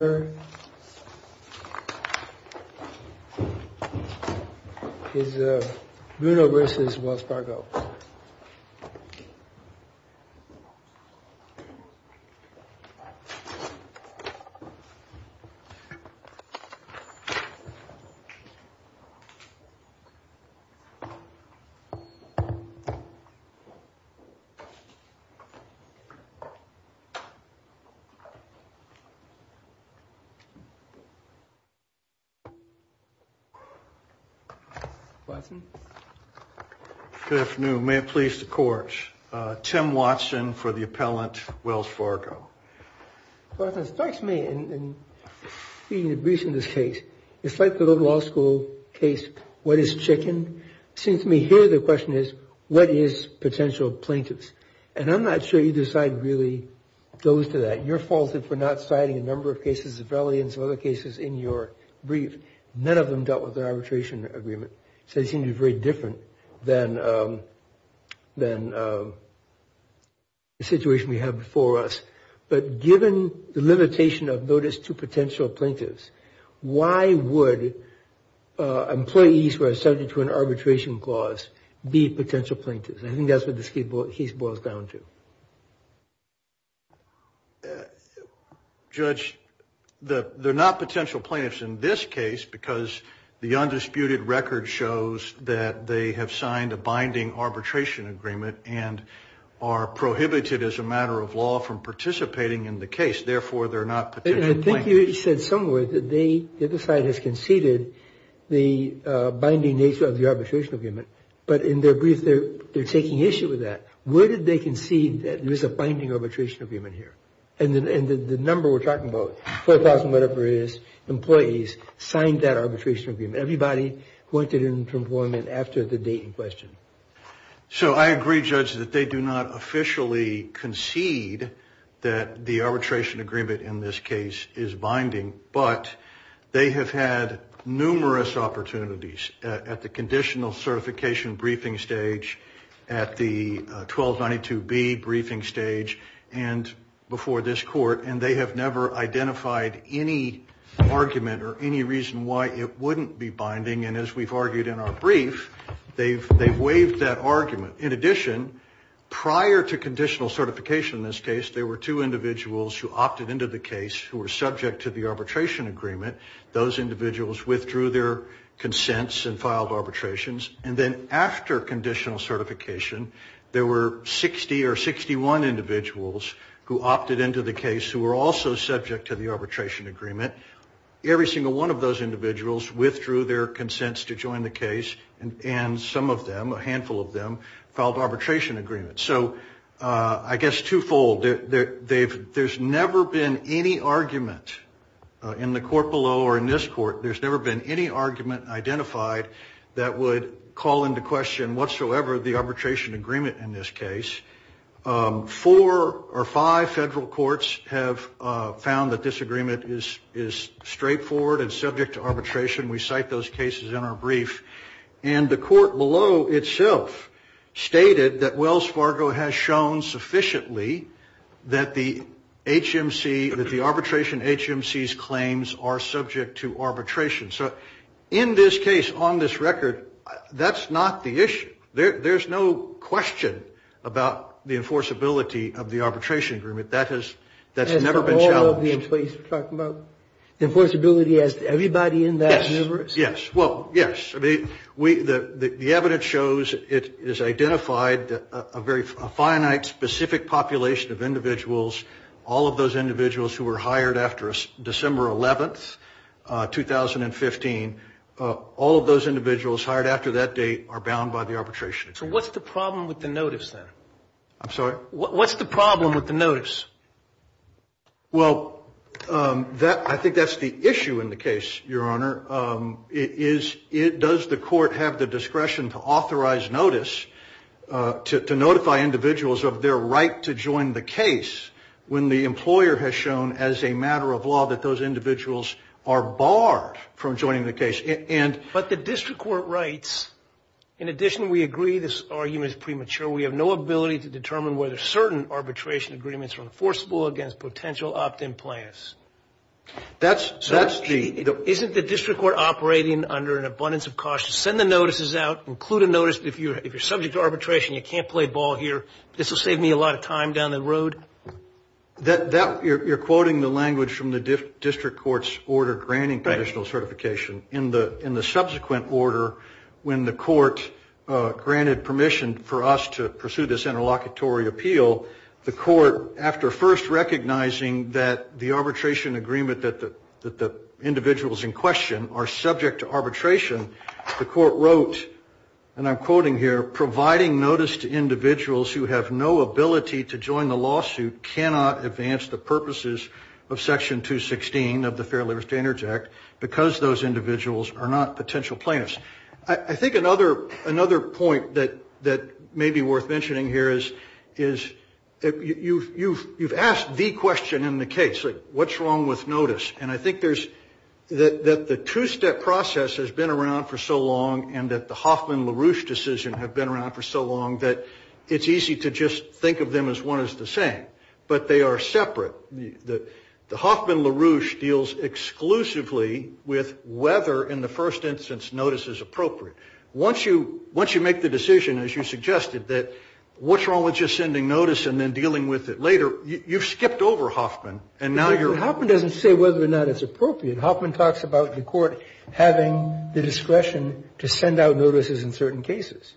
Bruno v. Wells Fargo Good afternoon. May it please the court. Tim Watson for the appellant Wells Fargo. Well, it strikes me in reading the briefs in this case, it's like the law school case, what is chicken? It seems to me here the question is, what is potential plaintiffs? And I'm not sure either side really goes to that. You're faulted for not citing a number of cases, millions of other cases in your brief. None of them dealt with the arbitration agreement. So they seem to be very different than the situation we have before us. But given the limitation of notice to potential plaintiffs, why would employees who are subject to an arbitration clause be potential plaintiffs? I think that's what this case boils down to. Judge, they're not potential plaintiffs in this case because the undisputed record shows that they have signed a binding arbitration agreement and are prohibited as a matter of law from participating in the case. Therefore, they're not potential plaintiffs. I think you said somewhere that the other side has conceded the binding nature of the arbitration agreement. But in their brief, they're taking issue with that. Where did they concede that there is a binding arbitration agreement here? And the number we're talking about, 4,000 whatever it is, employees signed that arbitration agreement. Everybody wanted employment after the date in question. So I agree, Judge, that they do not officially concede that the arbitration agreement in this case is binding. But they have had numerous opportunities at the conditional certification briefing stage, at the 1292B briefing stage, and before this court. And they have never identified any argument or any reason why it wouldn't be binding. And as we've argued in our brief, they've waived that argument. In addition, prior to conditional certification in this case, there were two individuals who opted into the case who were subject to the arbitration agreement. Those individuals withdrew their consents and filed arbitrations. And then after conditional certification, there were 60 or 61 individuals who opted into the case who were also subject to the arbitration agreement. Every single one of those individuals withdrew their consents to join the case. And some of them, a handful of them, filed arbitration agreements. So I guess twofold, there's never been any argument in the court below or in this court, there's never been any argument identified that would call into question whatsoever the arbitration agreement in this case. Four or five federal courts have found that this agreement is straightforward and subject to arbitration. We cite those cases in our brief. And the court below itself stated that Wells Fargo has shown sufficiently that the HMC, that the arbitration HMC's claims are subject to arbitration. So in this case, on this record, that's not the issue. There's no question about the enforceability of the arbitration agreement. That has never been challenged. You're talking about the enforceability as everybody in that universe? Yes. Well, yes. The evidence shows it is identified a very finite, specific population of individuals. All of those individuals who were hired after December 11, 2015, all of those individuals hired after that date are bound by the arbitration agreement. So what's the problem with the notice then? I'm sorry? What's the problem with the notice? Well, I think that's the issue in the case, Your Honor, is does the court have the discretion to authorize notice to notify individuals of their right to join the case when the employer has shown as a matter of law that those individuals are barred from joining the case? But the district court writes, in addition, we agree this argument is premature. We have no ability to determine whether certain arbitration agreements are enforceable against potential opt-in plans. Isn't the district court operating under an abundance of caution? Send the notices out. Include a notice that if you're subject to arbitration, you can't play ball here. This will save me a lot of time down the road. You're quoting the language from the district court's order granting conditional certification. In the subsequent order, when the court granted permission for us to pursue this interlocutory appeal, the court, after first recognizing that the arbitration agreement that the individuals in question are subject to arbitration, the court wrote, and I'm quoting here, providing notice to individuals who have no ability to join the lawsuit cannot advance the purposes of Section 216 of the Fair Labor Standards Act because those individuals are not potential plaintiffs. I think another point that may be worth mentioning here is you've asked the question in the case, what's wrong with notice? And I think that the two-step process has been around for so long and that the Hoffman-LaRouche decision have been around for so long that it's easy to just think of them as one is the same, but they are separate. The Hoffman-LaRouche deals exclusively with whether, in the first instance, notice is appropriate. Once you make the decision, as you suggested, that what's wrong with just sending notice and then dealing with it later, you've skipped over Hoffman. And now you're... Hoffman doesn't say whether or not it's appropriate. Hoffman talks about the court having the discretion to send out notices in certain cases.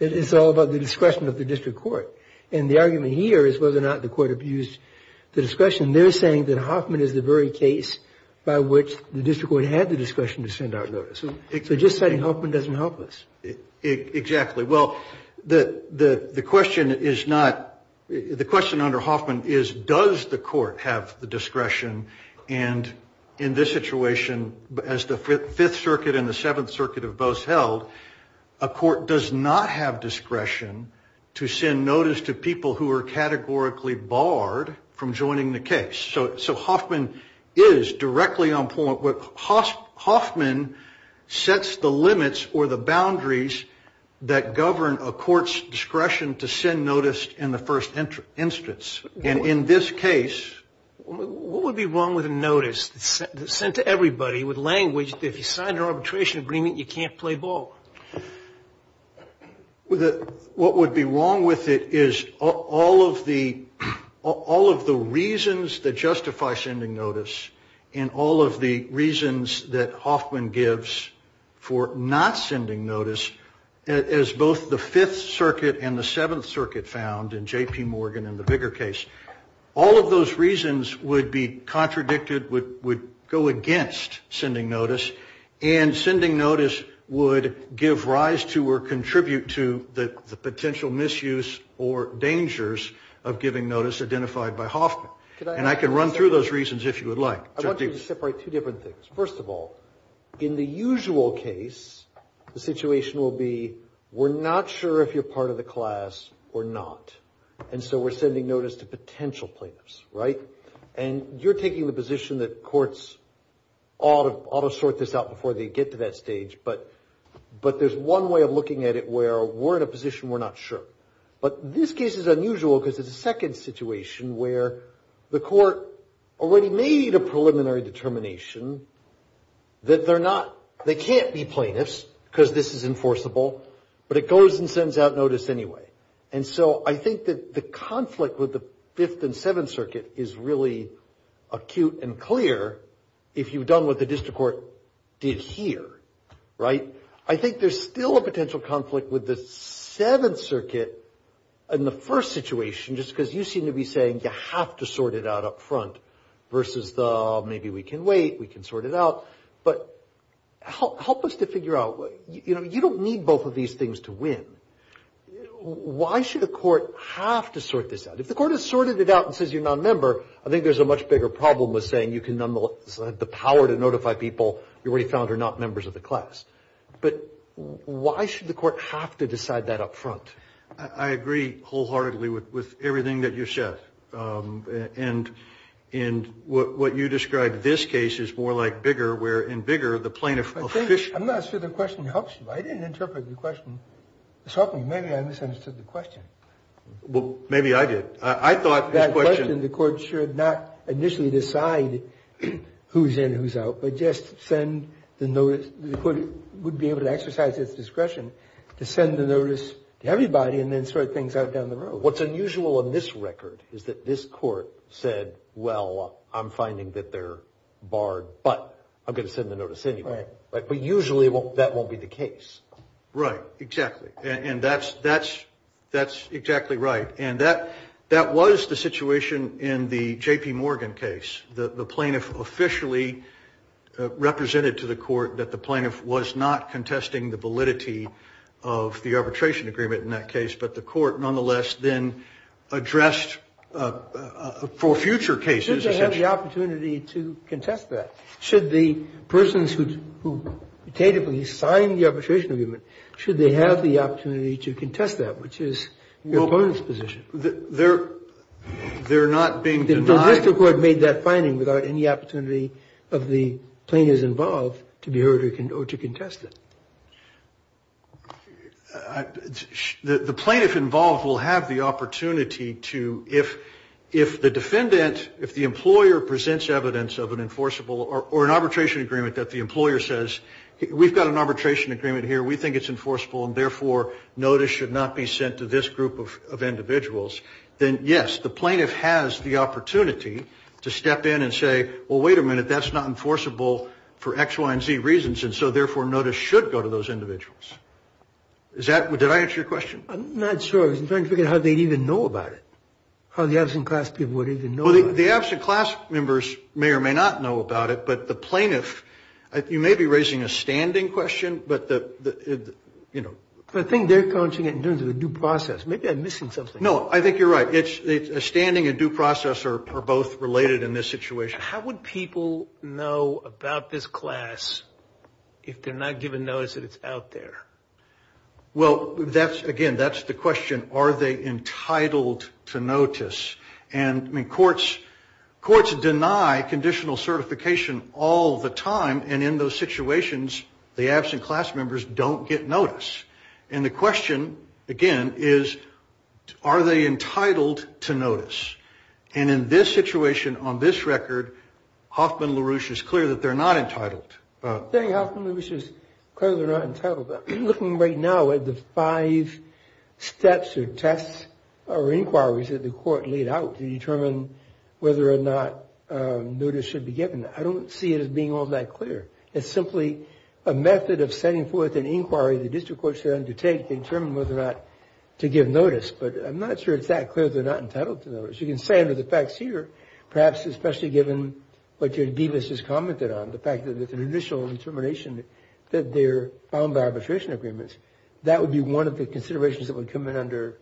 It's all about the discretion of the district court. And the argument here is whether or not the court abused the discretion. They're saying that Hoffman is the very case by which the district court had the discretion to send out notice. So just saying Hoffman doesn't help us. Exactly. Well, the question under Hoffman is, does the court have the discretion? And in this situation, as the Fifth Circuit and the Seventh Circuit have both held, a court does not have discretion to send notice to people who are categorically barred from joining the case. So Hoffman is directly on point. Hoffman sets the limits or the boundaries that govern a court's discretion to send notice in the first instance. And in this case... What would be wrong with a notice sent to everybody with language that if you sign an arbitration agreement, you can't play ball? What would be wrong with it is all of the reasons that justify sending notice and all of the reasons that Hoffman gives for not sending notice, as both the Fifth Circuit and the Seventh Circuit found in J.P. Morgan and the bigger case, all of those reasons would be contradicted, would go against sending notice, and sending notice would give rise to or contribute to the potential misuse or dangers of giving notice identified by Hoffman. And I can run through those reasons if you would like. I want you to separate two different things. First of all, in the usual case, the situation will be we're not sure if you're part of the class or not, and so we're sending notice to potential plaintiffs, right? And you're taking the position that courts ought to sort this out before they get to that stage, but there's one way of looking at it where we're in a position we're not sure. But this case is unusual because it's a second situation where the court already made a preliminary determination that they can't be plaintiffs because this is enforceable, but it goes and sends out notice anyway. And so I think that the conflict with the Fifth and Seventh Circuit is really acute and clear if you've done what the district court did here, right? I think there's still a potential conflict with the Seventh Circuit in the first situation, just because you seem to be saying you have to sort it out up front versus the maybe we can wait, we can sort it out. But help us to figure out, you know, you don't need both of these things to win. Why should a court have to sort this out? If the court has sorted it out and says you're not a member, I think there's a much bigger problem with saying you can nonetheless have the power to notify people you already found are not members of the class. But why should the court have to decide that up front? I agree wholeheartedly with everything that you've said. And what you described in this case is more like Bigger, where in Bigger the plaintiff officially… I'm not sure the question helps you. I didn't interpret the question. Maybe I misunderstood the question. Well, maybe I did. I thought the question… That question, the court should not initially decide who's in and who's out, but just send the notice. The court would be able to exercise its discretion to send the notice to everybody and then sort things out down the road. What's unusual in this record is that this court said, well, I'm finding that they're barred, but I'm going to send the notice anyway. But usually that won't be the case. Right. Exactly. And that's exactly right. And that was the situation in the J.P. Morgan case. The plaintiff officially represented to the court that the plaintiff was not contesting the validity of the arbitration agreement in that case, but the court nonetheless then addressed for future cases… Should they have the opportunity to contest that? Should the persons who tentatively signed the arbitration agreement, should they have the opportunity to contest that, which is the opponent's position? They're not being denied… The district court made that finding without any opportunity of the plaintiff's involved to be heard or to contest it. The plaintiff involved will have the opportunity to, if the defendant, if the employer presents evidence of an enforceable or an arbitration agreement that the employer says, we've got an arbitration agreement here, we think it's enforceable, and therefore notice should not be sent to this group of individuals, then yes, the plaintiff has the opportunity to step in and say, well, wait a minute, that's not enforceable for X, Y, and Z reasons, and so therefore notice should go to those individuals. Did I answer your question? I'm not sure. I'm trying to figure out how they'd even know about it, how the absent class people would even know about it. Well, the absent class members may or may not know about it, but the plaintiff, you may be raising a standing question, but the, you know… I think they're coaching it in terms of a due process. Maybe I'm missing something. No, I think you're right. It's a standing and due process are both related in this situation. How would people know about this class if they're not given notice that it's out there? Well, that's, again, that's the question. Are they entitled to notice? And courts deny conditional certification all the time, and in those situations the absent class members don't get notice. And the question, again, is are they entitled to notice? And in this situation, on this record, Hoffman-LaRouche is clear that they're not entitled. I think Hoffman-LaRouche is clear they're not entitled. I'm looking right now at the five steps or tests or inquiries that the court laid out to determine whether or not notice should be given. I don't see it as being all that clear. It's simply a method of sending forth an inquiry the district court should undertake to determine whether or not to give notice. But I'm not sure it's that clear they're not entitled to notice. You can say under the facts here, perhaps especially given what your divas has commented on, the fact that there's an initial determination that they're bound by arbitration agreements. That would be one of the considerations that would come in under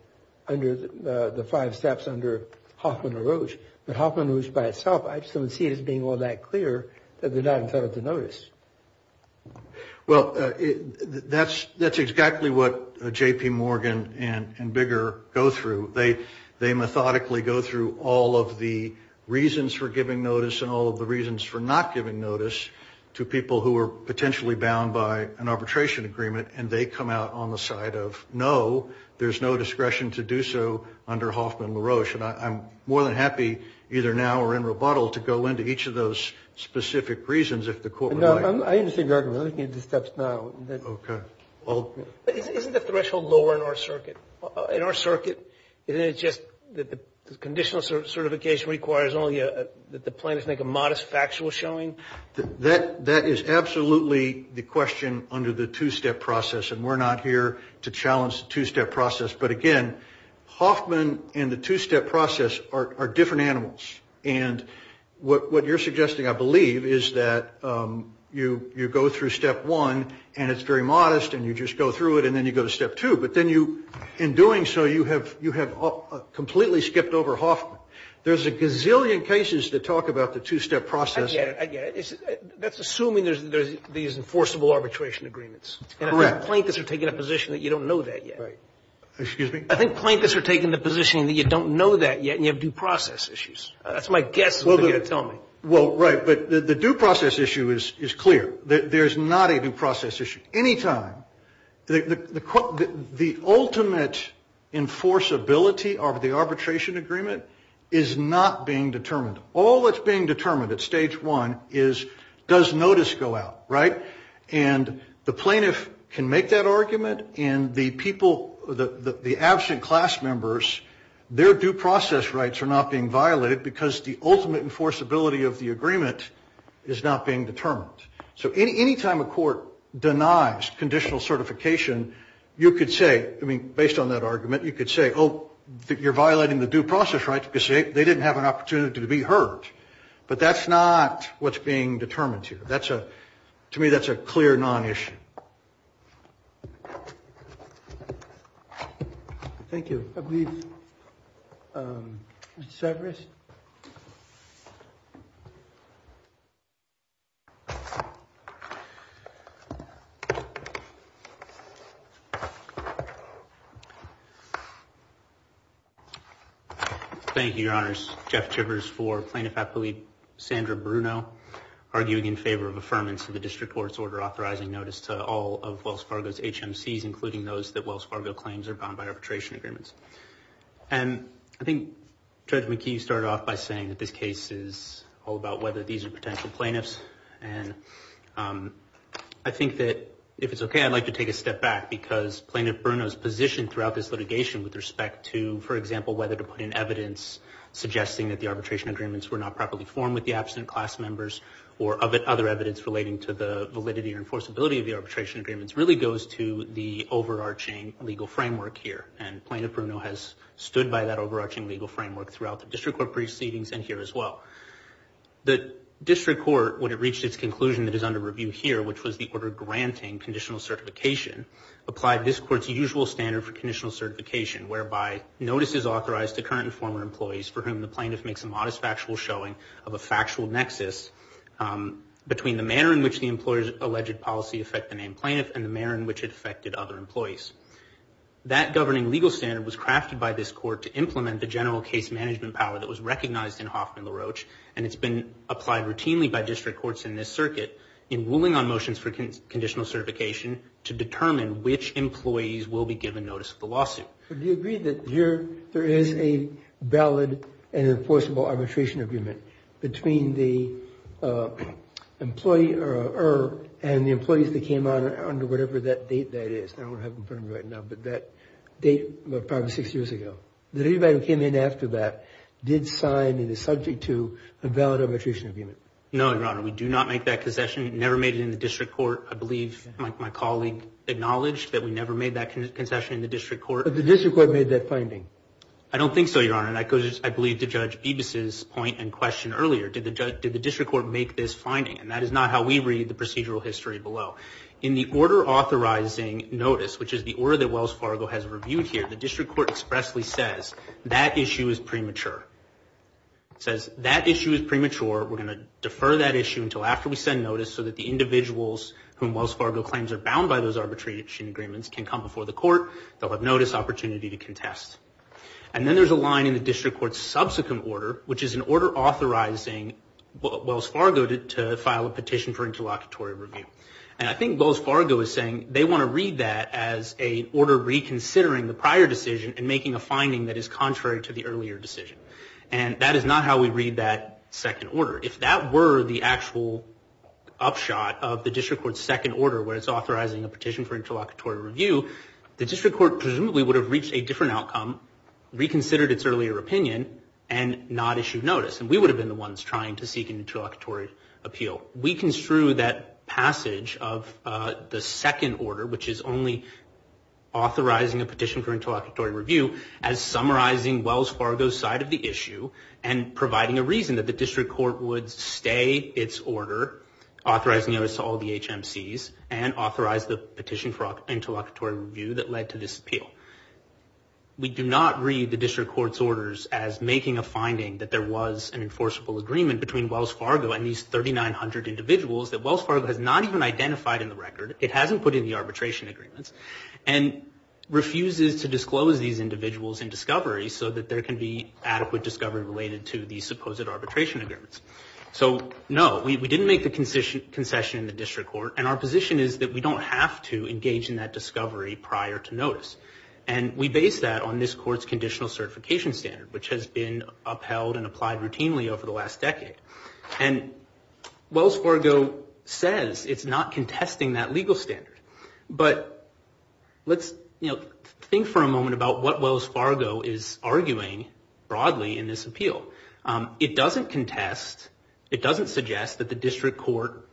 the five steps under Hoffman-LaRouche. But Hoffman-LaRouche by itself, I just don't see it as being all that clear that they're not entitled to notice. Well, that's exactly what J.P. Morgan and Bigger go through. They methodically go through all of the reasons for giving notice and all of the reasons for not giving notice to people who are potentially bound by an arbitration agreement. And they come out on the side of no, there's no discretion to do so under Hoffman-LaRouche. And I'm more than happy, either now or in rebuttal, to go into each of those specific reasons if the court would like. No, I understand your argument. I'm looking at the steps now. Okay. Isn't the threshold lower in our circuit? Isn't it just that the conditional certification requires only that the plaintiff make a modest factual showing? That is absolutely the question under the two-step process, and we're not here to challenge the two-step process. But, again, Hoffman and the two-step process are different animals. And what you're suggesting, I believe, is that you go through step one, and it's very modest, and you just go through it, and then you go to step two. But then you, in doing so, you have completely skipped over Hoffman. There's a gazillion cases that talk about the two-step process. I get it. That's assuming there's these enforceable arbitration agreements. Correct. And I think plaintiffs are taking a position that you don't know that yet. Right. Excuse me? I think plaintiffs are taking the position that you don't know that yet, and you have due process issues. That's my guess, is what you're going to tell me. Well, right. But the due process issue is clear. There's not a due process issue. Anytime, the ultimate enforceability of the arbitration agreement is not being determined. All that's being determined at stage one is does notice go out, right? And the plaintiff can make that argument, and the absent class members, their due process rights are not being violated because the ultimate enforceability of the agreement is not being determined. So anytime a court denies conditional certification, you could say, I mean, based on that argument, you could say, oh, you're violating the due process rights because they didn't have an opportunity to be heard. But that's not what's being determined here. To me, that's a clear non-issue. Thank you. I believe Severus. Thank you, Your Honors. Jeff Chivers for Plaintiff Appellate Sandra Bruno, arguing in favor of affirmance of the district court's order authorizing notice to all of Wells Fargo's HMCs, including those that Wells Fargo claims are bound by arbitration agreements. And I think Judge McKee started off by saying that this case is all about whether these are potential plaintiffs. And I think that if it's OK, I'd like to take a step back because Plaintiff Bruno's position throughout this litigation with respect to, for example, whether to put in evidence suggesting that the arbitration agreements were not properly formed with the absent class members or other evidence relating to the validity or enforceability of the arbitration agreements really goes to the overarching legal framework here. And Plaintiff Bruno has stood by that overarching legal framework throughout the district court proceedings and here as well. The district court, when it reached its conclusion that is under review here, which was the order granting conditional certification, applied this court's usual standard for conditional certification, whereby notice is authorized to current and former employees for whom the plaintiff makes a modest factual showing of a factual nexus between the manner in which the employer's alleged policy affected the named plaintiff and the manner in which it affected other employees. That governing legal standard was crafted by this court to implement the general case management power that was recognized in Hoffman LaRoche, and it's been applied routinely by district courts in this circuit in ruling on motions for conditional certification to determine which employees will be given notice of the lawsuit. Do you agree that there is a valid and enforceable arbitration agreement between the employee and the employees that came out under whatever that date that is? I don't have it in front of me right now, but that date was probably six years ago. Did anybody who came in after that did sign and is subject to a valid arbitration agreement? No, Your Honor. We do not make that concession. Never made it in the district court. I believe my colleague acknowledged that we never made that concession in the district court. But the district court made that finding. I don't think so, Your Honor. That goes, I believe, to Judge Bibas's point and question earlier. Did the district court make this finding? And that is not how we read the procedural history below. In the order authorizing notice, which is the order that Wells Fargo has reviewed here, the district court expressly says that issue is premature. It says that issue is premature. We're going to defer that issue until after we send notice so that the individuals whom Wells Fargo claims are bound by those arbitration agreements can come before the court. They'll have notice opportunity to contest. And then there's a line in the district court's subsequent order, which is an order authorizing Wells Fargo to file a petition for interlocutory review. And I think Wells Fargo is saying they want to read that as an order reconsidering the prior decision and making a finding that is contrary to the earlier decision. And that is not how we read that second order. If that were the actual upshot of the district court's second order, where it's authorizing a petition for interlocutory review, the district court presumably would have reached a different outcome, reconsidered its earlier opinion, and not issued notice. And we would have been the ones trying to seek an interlocutory appeal. We construe that passage of the second order, which is only authorizing a petition for interlocutory review, as summarizing Wells Fargo's side of the issue and providing a reason that the district court would stay its order, authorizing notice to all the HMCs, and authorize the petition for interlocutory review that led to this appeal. We do not read the district court's orders as making a finding that there was an enforceable agreement between Wells Fargo and these 3,900 individuals that Wells Fargo has not even identified in the record. It hasn't put in the arbitration agreements. And refuses to disclose these individuals in discovery so that there can be adequate discovery related to these supposed arbitration agreements. So, no, we didn't make the concession in the district court, and our position is that we don't have to engage in that discovery prior to notice. And we base that on this court's conditional certification standard, which has been upheld and applied routinely over the last decade. And Wells Fargo says it's not contesting that legal standard. But let's think for a moment about what Wells Fargo is arguing broadly in this appeal. It doesn't contest, it doesn't suggest that the district court,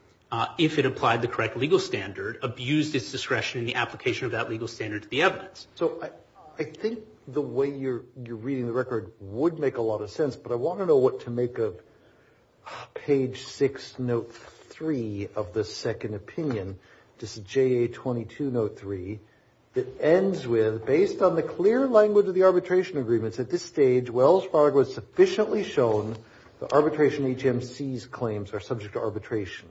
if it applied the correct legal standard, abused its discretion in the application of that legal standard to the evidence. So I think the way you're reading the record would make a lot of sense, but I want to know what to make of page 6, note 3 of the second opinion. This is JA 2203, that ends with, based on the clear language of the arbitration agreements at this stage, Wells Fargo has sufficiently shown the arbitration HMC's claims are subject to arbitration.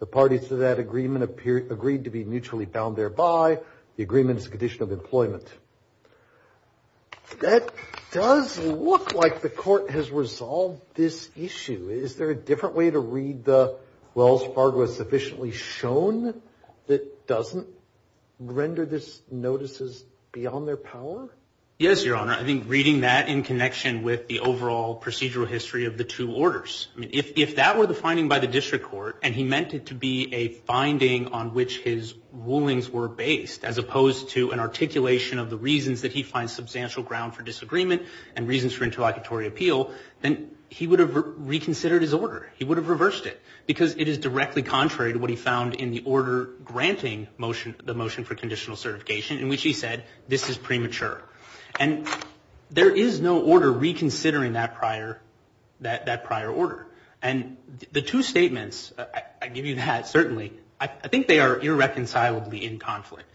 The parties to that agreement agreed to be mutually bound thereby. The agreement is a condition of employment. That does look like the court has resolved this issue. Is there a different way to read the, Wells Fargo has sufficiently shown that doesn't render this notices beyond their power? Yes, Your Honor. I think reading that in connection with the overall procedural history of the two orders. If that were the finding by the district court, and he meant it to be a finding on which his rulings were based, as opposed to an articulation of the reasons that he finds substantial ground for disagreement and reasons for interlocutory appeal, then he would have reconsidered his order. He would have reversed it. Because it is directly contrary to what he found in the order granting the motion for conditional certification, in which he said, this is premature. And there is no order reconsidering that prior order. And the two statements, I give you that, certainly, I think they are irreconcilably in conflict.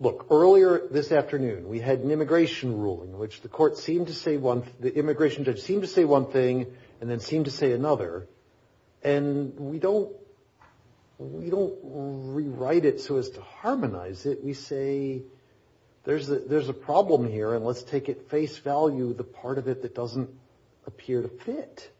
Look, earlier this afternoon, we had an immigration ruling, which the immigration judge seemed to say one thing and then seemed to say another. And we don't rewrite it so as to harmonize it. We say, there's a problem here, and let's take at face value the part of it that doesn't appear to fit.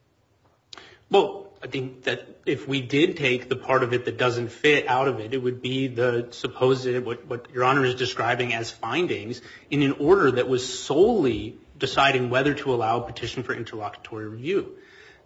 Well, I think that if we did take the part of it that doesn't fit out of it, it would be what Your Honor is describing as findings in an order that was solely deciding whether to allow a petition for interlocutory review.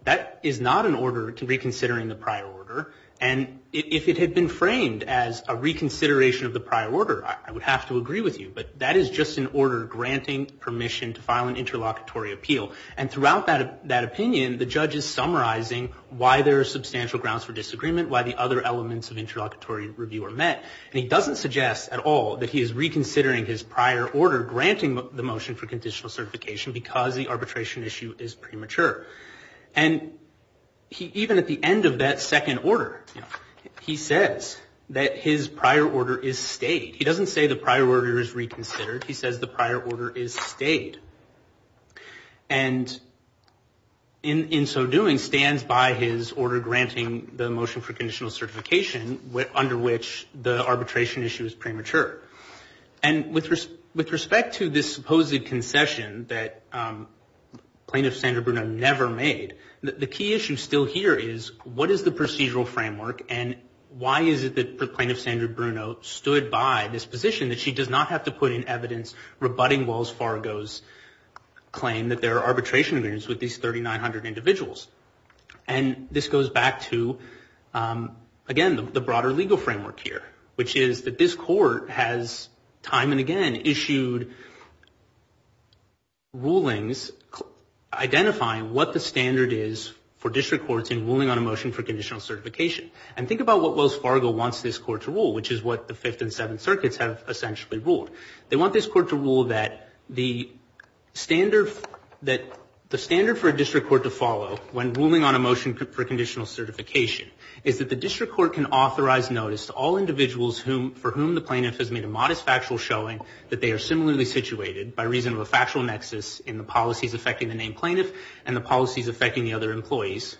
That is not an order reconsidering the prior order. And if it had been framed as a reconsideration of the prior order, I would have to agree with you. But that is just an order granting permission to file an interlocutory appeal. And throughout that opinion, the judge is summarizing why there are substantial grounds for disagreement, why the other elements of interlocutory review are met. And he doesn't suggest at all that he is reconsidering his prior order granting the motion for conditional certification because the arbitration issue is premature. And even at the end of that second order, he says that his prior order is stayed. He doesn't say the prior order is reconsidered. He says the prior order is stayed. And in so doing, stands by his order granting the motion for conditional certification under which the arbitration issue is premature. And with respect to this supposed concession that Plaintiff Sandra Bruno never made, the key issue still here is what is the procedural framework and why is it that Plaintiff Sandra Bruno stood by this position that she does not have to put in evidence rebutting Wells Fargo's claim that there are arbitration agreements with these 3,900 individuals. And this goes back to, again, the broader legal framework here, which is that this court has time and again issued rulings identifying what the standard is for district courts in ruling on a motion for conditional certification. And think about what Wells Fargo wants this court to rule, which is what the Fifth and Seventh Circuits have essentially ruled. They want this court to rule that the standard for a district court to follow when ruling on a motion for conditional certification is that the district court can authorize notice to all individuals for whom the plaintiff has made a modest factual showing that they are similarly situated by reason of a factual nexus in the policies affecting the named plaintiff and the policies affecting the other employees,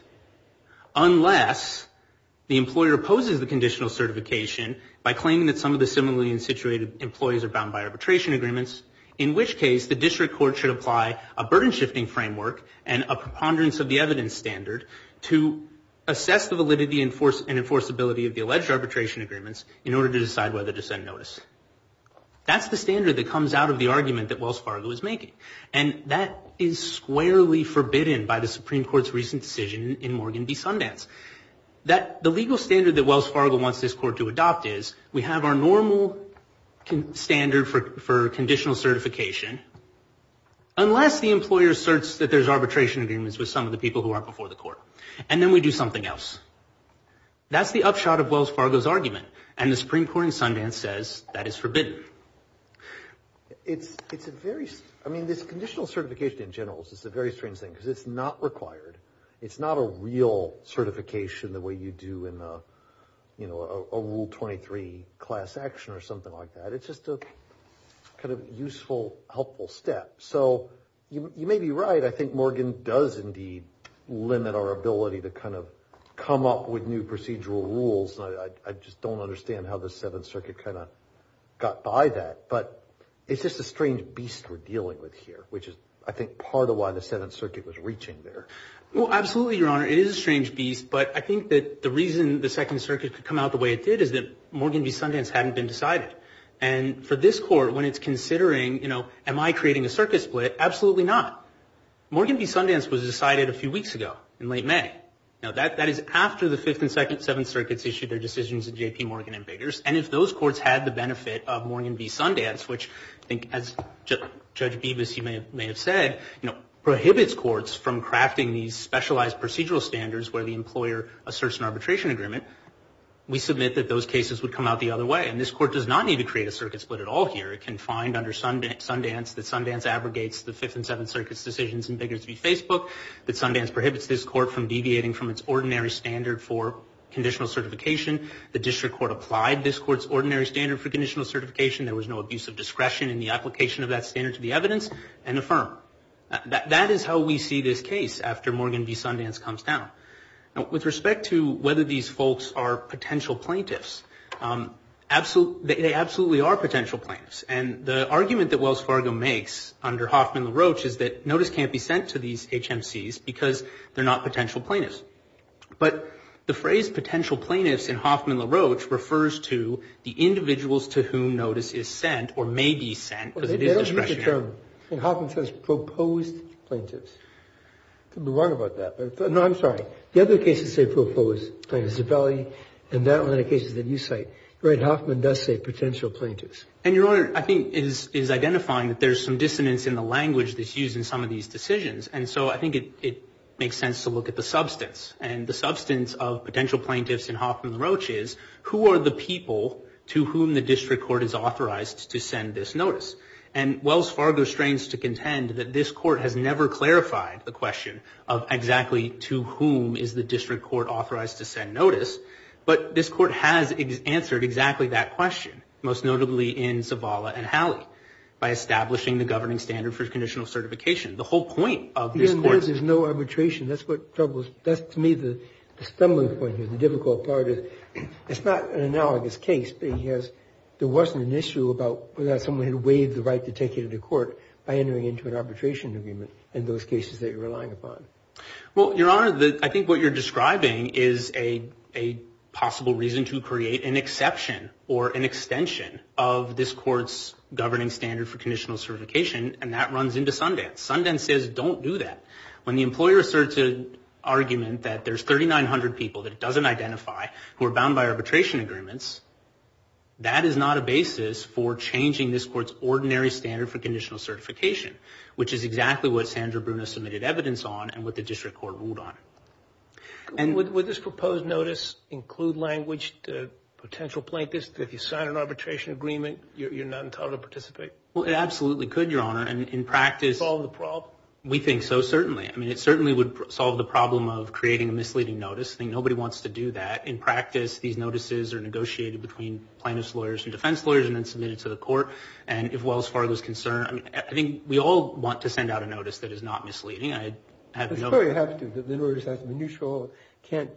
unless the employer opposes the conditional certification by claiming that some of the similarly situated employees are bound by arbitration agreements, in which case the district court should apply a burden-shifting framework and a preponderance of the evidence standard to assess the validity and enforceability of the alleged arbitration agreements in order to decide whether to send notice. That's the standard that comes out of the argument that Wells Fargo is making. And that is squarely forbidden by the Supreme Court's recent decision in Morgan v. Sundance. The legal standard that Wells Fargo wants this court to adopt is we have our normal standard for conditional certification, unless the employer asserts that there's arbitration agreements with some of the people who aren't before the court. And then we do something else. That's the upshot of Wells Fargo's argument. And the Supreme Court in Sundance says that is forbidden. It's a very—I mean, this conditional certification in general is a very strange thing, because it's not required. It's not a real certification the way you do in a Rule 23 class action or something like that. It's just a kind of useful, helpful step. So you may be right. I think Morgan does indeed limit our ability to kind of come up with new procedural rules. I just don't understand how the Seventh Circuit kind of got by that. But it's just a strange beast we're dealing with here, which is, I think, part of why the Seventh Circuit was reaching there. Well, absolutely, Your Honor. It is a strange beast, but I think that the reason the Second Circuit could come out the way it did is that Morgan v. Sundance hadn't been decided. And for this court, when it's considering, you know, am I creating a circuit split, absolutely not. Morgan v. Sundance was decided a few weeks ago, in late May. Now, that is after the Fifth and Seventh Circuits issued their decisions in J.P. Morgan v. Biggers. And if those courts had the benefit of Morgan v. Sundance, which I think, as Judge Bevis, you may have said, you know, prohibits courts from crafting these specialized procedural standards where the employer asserts an arbitration agreement, we submit that those cases would come out the other way. And this court does not need to create a circuit split at all here. It can find under Sundance that Sundance abrogates the Fifth and Seventh Circuit's decisions in Biggers v. Facebook, that Sundance prohibits this court from deviating from its ordinary standard for conditional certification, the district court applied this court's ordinary standard for conditional certification, there was no abuse of discretion in the application of that standard to the evidence, and affirm. That is how we see this case after Morgan v. Sundance comes down. Now, with respect to whether these folks are potential plaintiffs, they absolutely are potential plaintiffs. And the argument that Wells Fargo makes under Hoffman v. LaRoche is that notice can't be sent to these HMCs because they're not potential plaintiffs. But the phrase potential plaintiffs in Hoffman v. LaRoche refers to the individuals to whom notice is sent or may be sent because it is discretionary. And Hoffman says proposed plaintiffs. I could be wrong about that. No, I'm sorry. The other cases say proposed plaintiffs. Zabelli and that one are the cases that you cite. Hoffman does say potential plaintiffs. And your Honor, I think, is identifying that there's some dissonance in the language that's used in some of these decisions, and so I think it makes sense to look at the substance. And the substance of potential plaintiffs in Hoffman v. LaRoche is who are the people to whom the district court is authorized to send this notice? And Wells Fargo strains to contend that this court has never clarified the question of exactly to whom is the district court authorized to send notice, but this court has answered exactly that question, most notably in Zavala and Hallie, by establishing the governing standard for conditional certification. The whole point of this court is... There's no arbitration. That's to me the stumbling point here. The difficult part is it's not an analogous case, but there wasn't an issue about whether or not someone had waived the right to take it into court by entering into an arbitration agreement in those cases that you're relying upon. Well, Your Honor, I think what you're describing is a possible reason to create an exception or an extension of this court's governing standard for conditional certification, and that runs into Sundance. Sundance says don't do that. When the employer asserts an argument that there's 3,900 people that it doesn't identify who are bound by arbitration agreements, that is not a basis for changing this court's ordinary standard for conditional certification, which is exactly what Sandra Bruna submitted evidence on and what the district court ruled on. Would this proposed notice include language to potential plaintiffs that if you sign an arbitration agreement, you're not entitled to participate? Well, it absolutely could, Your Honor. And in practice... Solve the problem? We think so, certainly. I mean, it certainly would solve the problem of creating a misleading notice. I think nobody wants to do that. In practice, these notices are negotiated between plaintiffs' lawyers and defense lawyers and then submitted to the court. And if Wells Fargo is concerned, I think we all want to send out a notice that is not misleading. That's probably what it has to do, that the notice has to be neutral, can't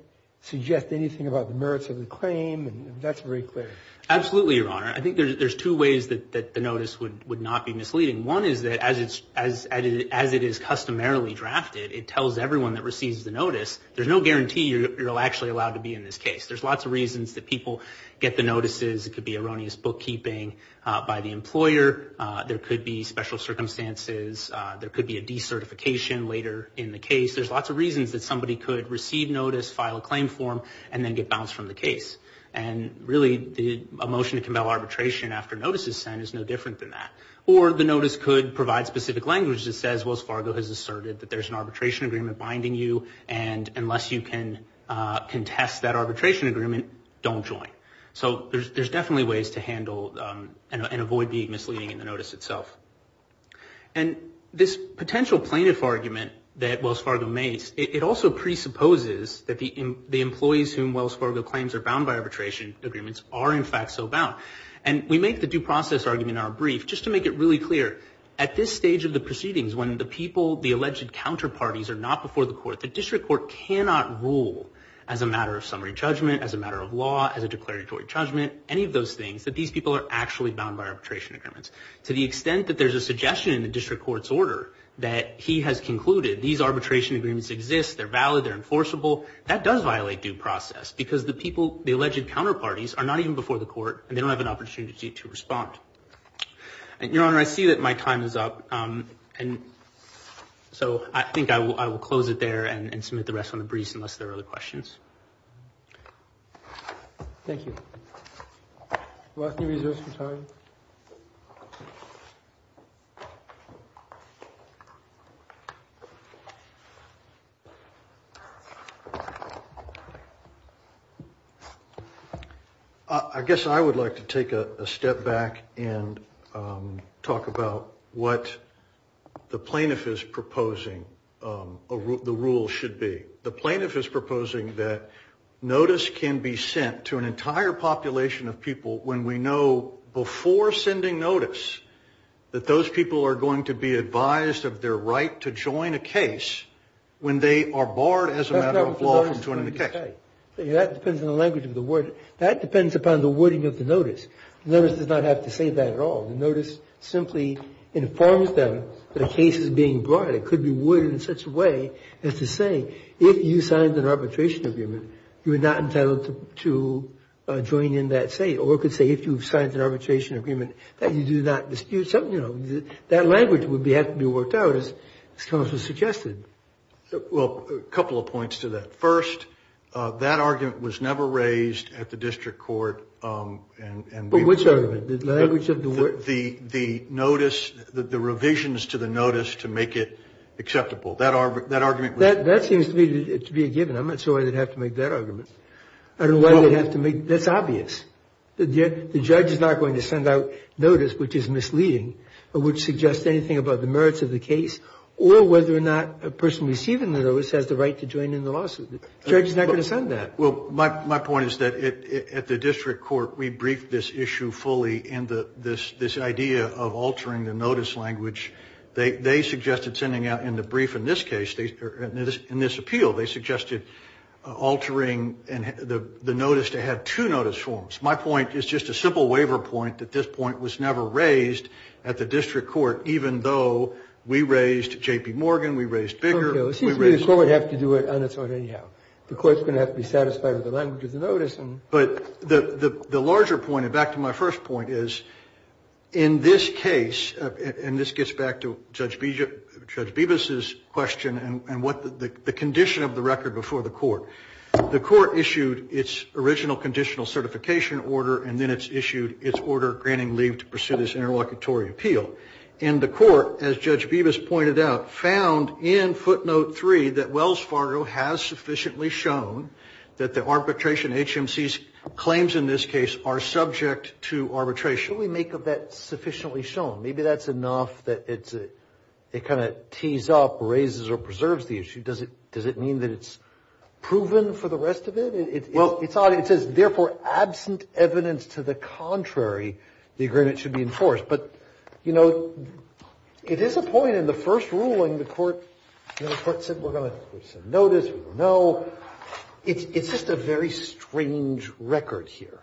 suggest anything about the merits of the claim, and that's very clear. Absolutely, Your Honor. I think there's two ways that the notice would not be misleading. One is that as it is customarily drafted, it tells everyone that receives the notice, there's no guarantee you're actually allowed to be in this case. There's lots of reasons that people get the notices. It could be erroneous bookkeeping by the employer. There could be special circumstances. There could be a decertification later in the case. There's lots of reasons that somebody could receive notice, file a claim form, and then get bounced from the case. And really, a motion to compel arbitration after notice is sent is no different than that. Or the notice could provide specific language that says, Wells Fargo has asserted that there's an arbitration agreement binding you, and unless you can contest that arbitration agreement, don't join. So there's definitely ways to handle and avoid being misleading in the notice itself. And this potential plaintiff argument that Wells Fargo makes, it also presupposes that the employees whom Wells Fargo claims are bound by arbitration agreements are in fact so bound. And we make the due process argument in our brief just to make it really clear. At this stage of the proceedings, when the people, the alleged counterparties, are not before the court, the district court cannot rule as a matter of summary judgment, as a matter of law, as a declaratory judgment, any of those things, that these people are actually bound by arbitration agreements. To the extent that there's a suggestion in the district court's order that he has concluded these arbitration agreements exist, they're valid, they're enforceable, that does violate due process. Because the people, the alleged counterparties, are not even before the court, and they don't have an opportunity to respond. Your Honor, I see that my time is up. And so I think I will close it there and submit the rest on the briefs unless there are other questions. Thank you. Last few minutes of your time. I guess I would like to take a step back and talk about what the plaintiff is proposing the rule should be. The plaintiff is proposing that notice can be sent to an entire population of people when we know before sending notice that those people are going to be advised of their right to join a case when they are barred as a matter of law from joining the case. That depends on the language of the word. That depends upon the wording of the notice. The notice does not have to say that at all. The notice simply informs them that a case is being brought. It could be worded in such a way as to say if you signed an arbitration agreement, you are not entitled to join in that state. Or it could say if you've signed an arbitration agreement that you do not dispute something. That language would have to be worked out as counsel suggested. Well, a couple of points to that. First, that argument was never raised at the district court. But which argument? The language of the word? Or the notice, the revisions to the notice to make it acceptable. That argument was never raised. That seems to me to be a given. I'm not sure why they'd have to make that argument. I don't know why they'd have to make it. That's obvious. The judge is not going to send out notice which is misleading or which suggests anything about the merits of the case or whether or not a person receiving the notice has the right to join in the lawsuit. The judge is not going to send that. Well, my point is that at the district court, we briefed this issue fully in this idea of altering the notice language. They suggested sending out in the brief in this case, in this appeal, they suggested altering the notice to have two notice forms. My point is just a simple waiver point that this point was never raised at the district court, even though we raised J.P. Morgan, we raised Bigger. It seems to me the court would have to do it on its own anyhow. The court's going to have to be satisfied with the language of the notice. But the larger point, and back to my first point, is in this case, and this gets back to Judge Bevis' question and what the condition of the record before the court. The court issued its original conditional certification order, and then it's issued its order granting leave to pursue this interlocutory appeal. And the court, as Judge Bevis pointed out, found in footnote three that Wells Fargo has sufficiently shown that the arbitration HMC's claims in this case are subject to arbitration. Can we make of that sufficiently shown? Maybe that's enough that it kind of tees up, raises, or preserves the issue. Does it mean that it's proven for the rest of it? It says, therefore, absent evidence to the contrary, the agreement should be enforced. But, you know, it is a point in the first ruling, the court said we're going to issue a notice, we're going to know. It's just a very strange record here.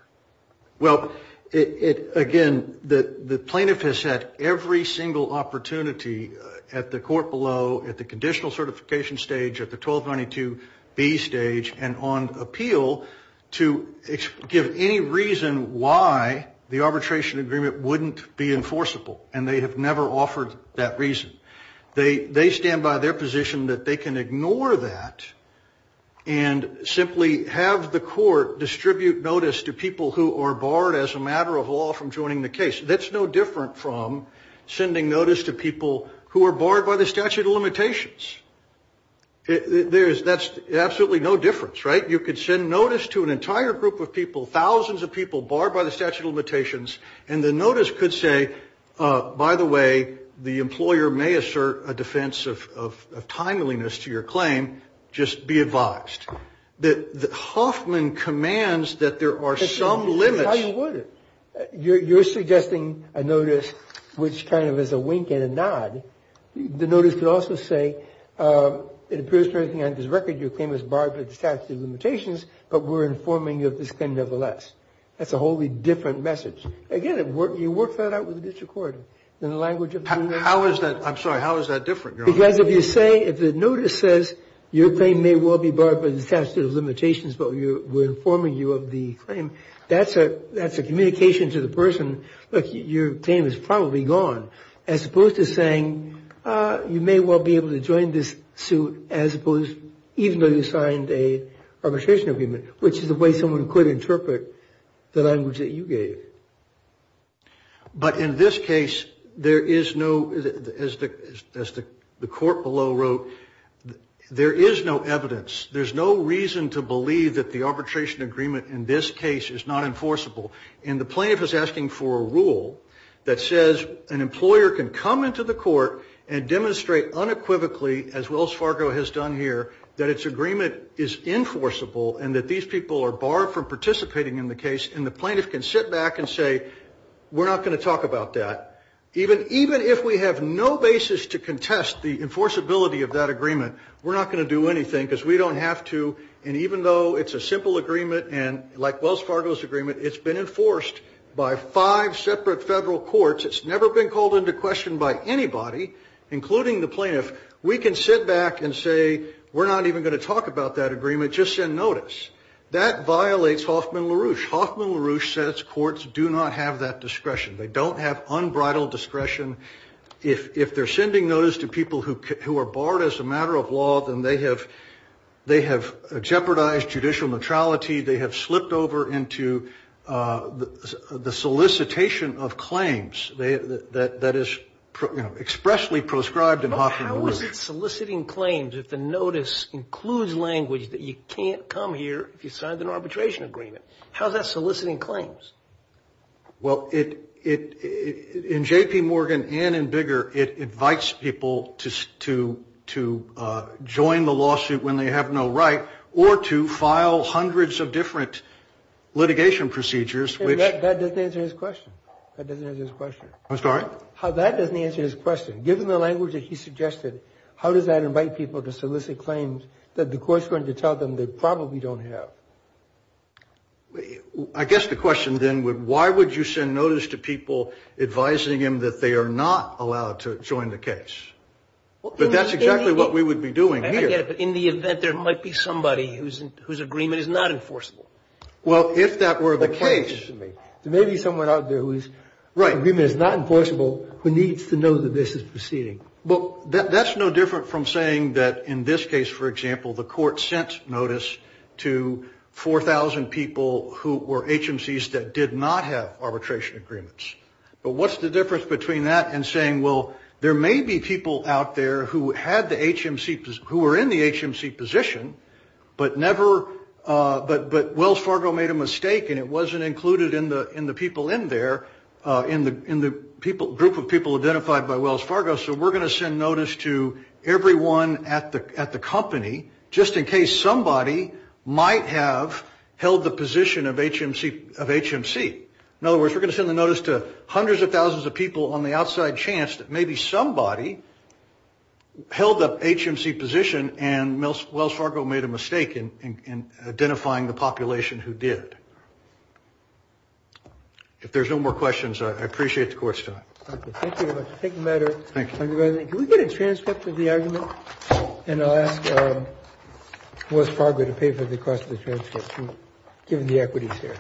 Well, again, the plaintiff has had every single opportunity at the court below, at the conditional certification stage, at the 1292B stage, and on appeal to give any reason why the arbitration agreement wouldn't be enforceable, and they have never offered that reason. They stand by their position that they can ignore that and simply have the court distribute notice to people who are barred as a matter of law from joining the case. That's no different from sending notice to people who are barred by the statute of limitations. That's absolutely no difference, right? You could send notice to an entire group of people, thousands of people barred by the statute of limitations, and the notice could say, by the way, the employer may assert a defense of timeliness to your claim, just be advised. Hoffman commands that there are some limits. That's how you would it. You're suggesting a notice which kind of is a wink and a nod. The notice could also say it appears to me on this record your claim is barred by the statute of limitations, but we're informing you of this claim nevertheless. That's a wholly different message. Again, you work that out with the district court in the language of the notice. I'm sorry. How is that different, Your Honor? Because if you say, if the notice says your claim may well be barred by the statute of limitations, but we're informing you of the claim, that's a communication to the person, look, your claim is probably gone, as opposed to saying you may well be able to join this suit as opposed, even though you signed an arbitration agreement, which is the way someone could interpret the language that you gave. But in this case, there is no, as the court below wrote, there is no evidence. There's no reason to believe that the arbitration agreement in this case is not enforceable. And the plaintiff is asking for a rule that says an employer can come into the court and demonstrate unequivocally, as Wells Fargo has done here, that its agreement is enforceable and that these people are barred from participating in the case. And the plaintiff can sit back and say, we're not going to talk about that. Even if we have no basis to contest the enforceability of that agreement, we're not going to do anything because we don't have to. And even though it's a simple agreement, like Wells Fargo's agreement, it's been enforced by five separate federal courts. It's never been called into question by anybody, including the plaintiff. We can sit back and say, we're not even going to talk about that agreement, just send notice. That violates Hoffman LaRouche. Hoffman LaRouche says courts do not have that discretion. They don't have unbridled discretion. If they're sending notice to people who are barred as a matter of law, then they have jeopardized judicial neutrality. They have slipped over into the solicitation of claims that is expressly prescribed in Hoffman LaRouche. But how is it soliciting claims if the notice includes language that you can't come here if you signed an arbitration agreement? How is that soliciting claims? Well, in J.P. Morgan and in Bigger, it invites people to join the lawsuit when they have no right or to file hundreds of different litigation procedures, which — That doesn't answer his question. That doesn't answer his question. I'm sorry? That doesn't answer his question. Given the language that he suggested, how does that invite people to solicit claims that the court's going to tell them they probably don't have? I guess the question then would, why would you send notice to people advising them that they are not allowed to join the case? But that's exactly what we would be doing here. I get it. But in the event there might be somebody whose agreement is not enforceable. Well, if that were the case — That's what the question is to me. There may be someone out there whose agreement is not enforceable who needs to know that this is proceeding. Well, that's no different from saying that in this case, for example, the court sent notice to 4,000 people who were HMCs that did not have arbitration agreements. But what's the difference between that and saying, well, there may be people out there who had the HMC — who were in the HMC position but never — but Wells Fargo made a mistake and it wasn't included in the people in there, in the group of people identified by Wells Fargo, so we're going to send notice to everyone at the company just in case somebody might have held the position of HMC. In other words, we're going to send the notice to hundreds of thousands of people on the outside chance that maybe somebody held the HMC position and Wells Fargo made a mistake in identifying the population who did. If there's no more questions, I appreciate the court's time. Thank you very much. Thank you. Can we get a transcript of the argument? And I'll ask Wells Fargo to pay for the cost of the transcript, given the equities here.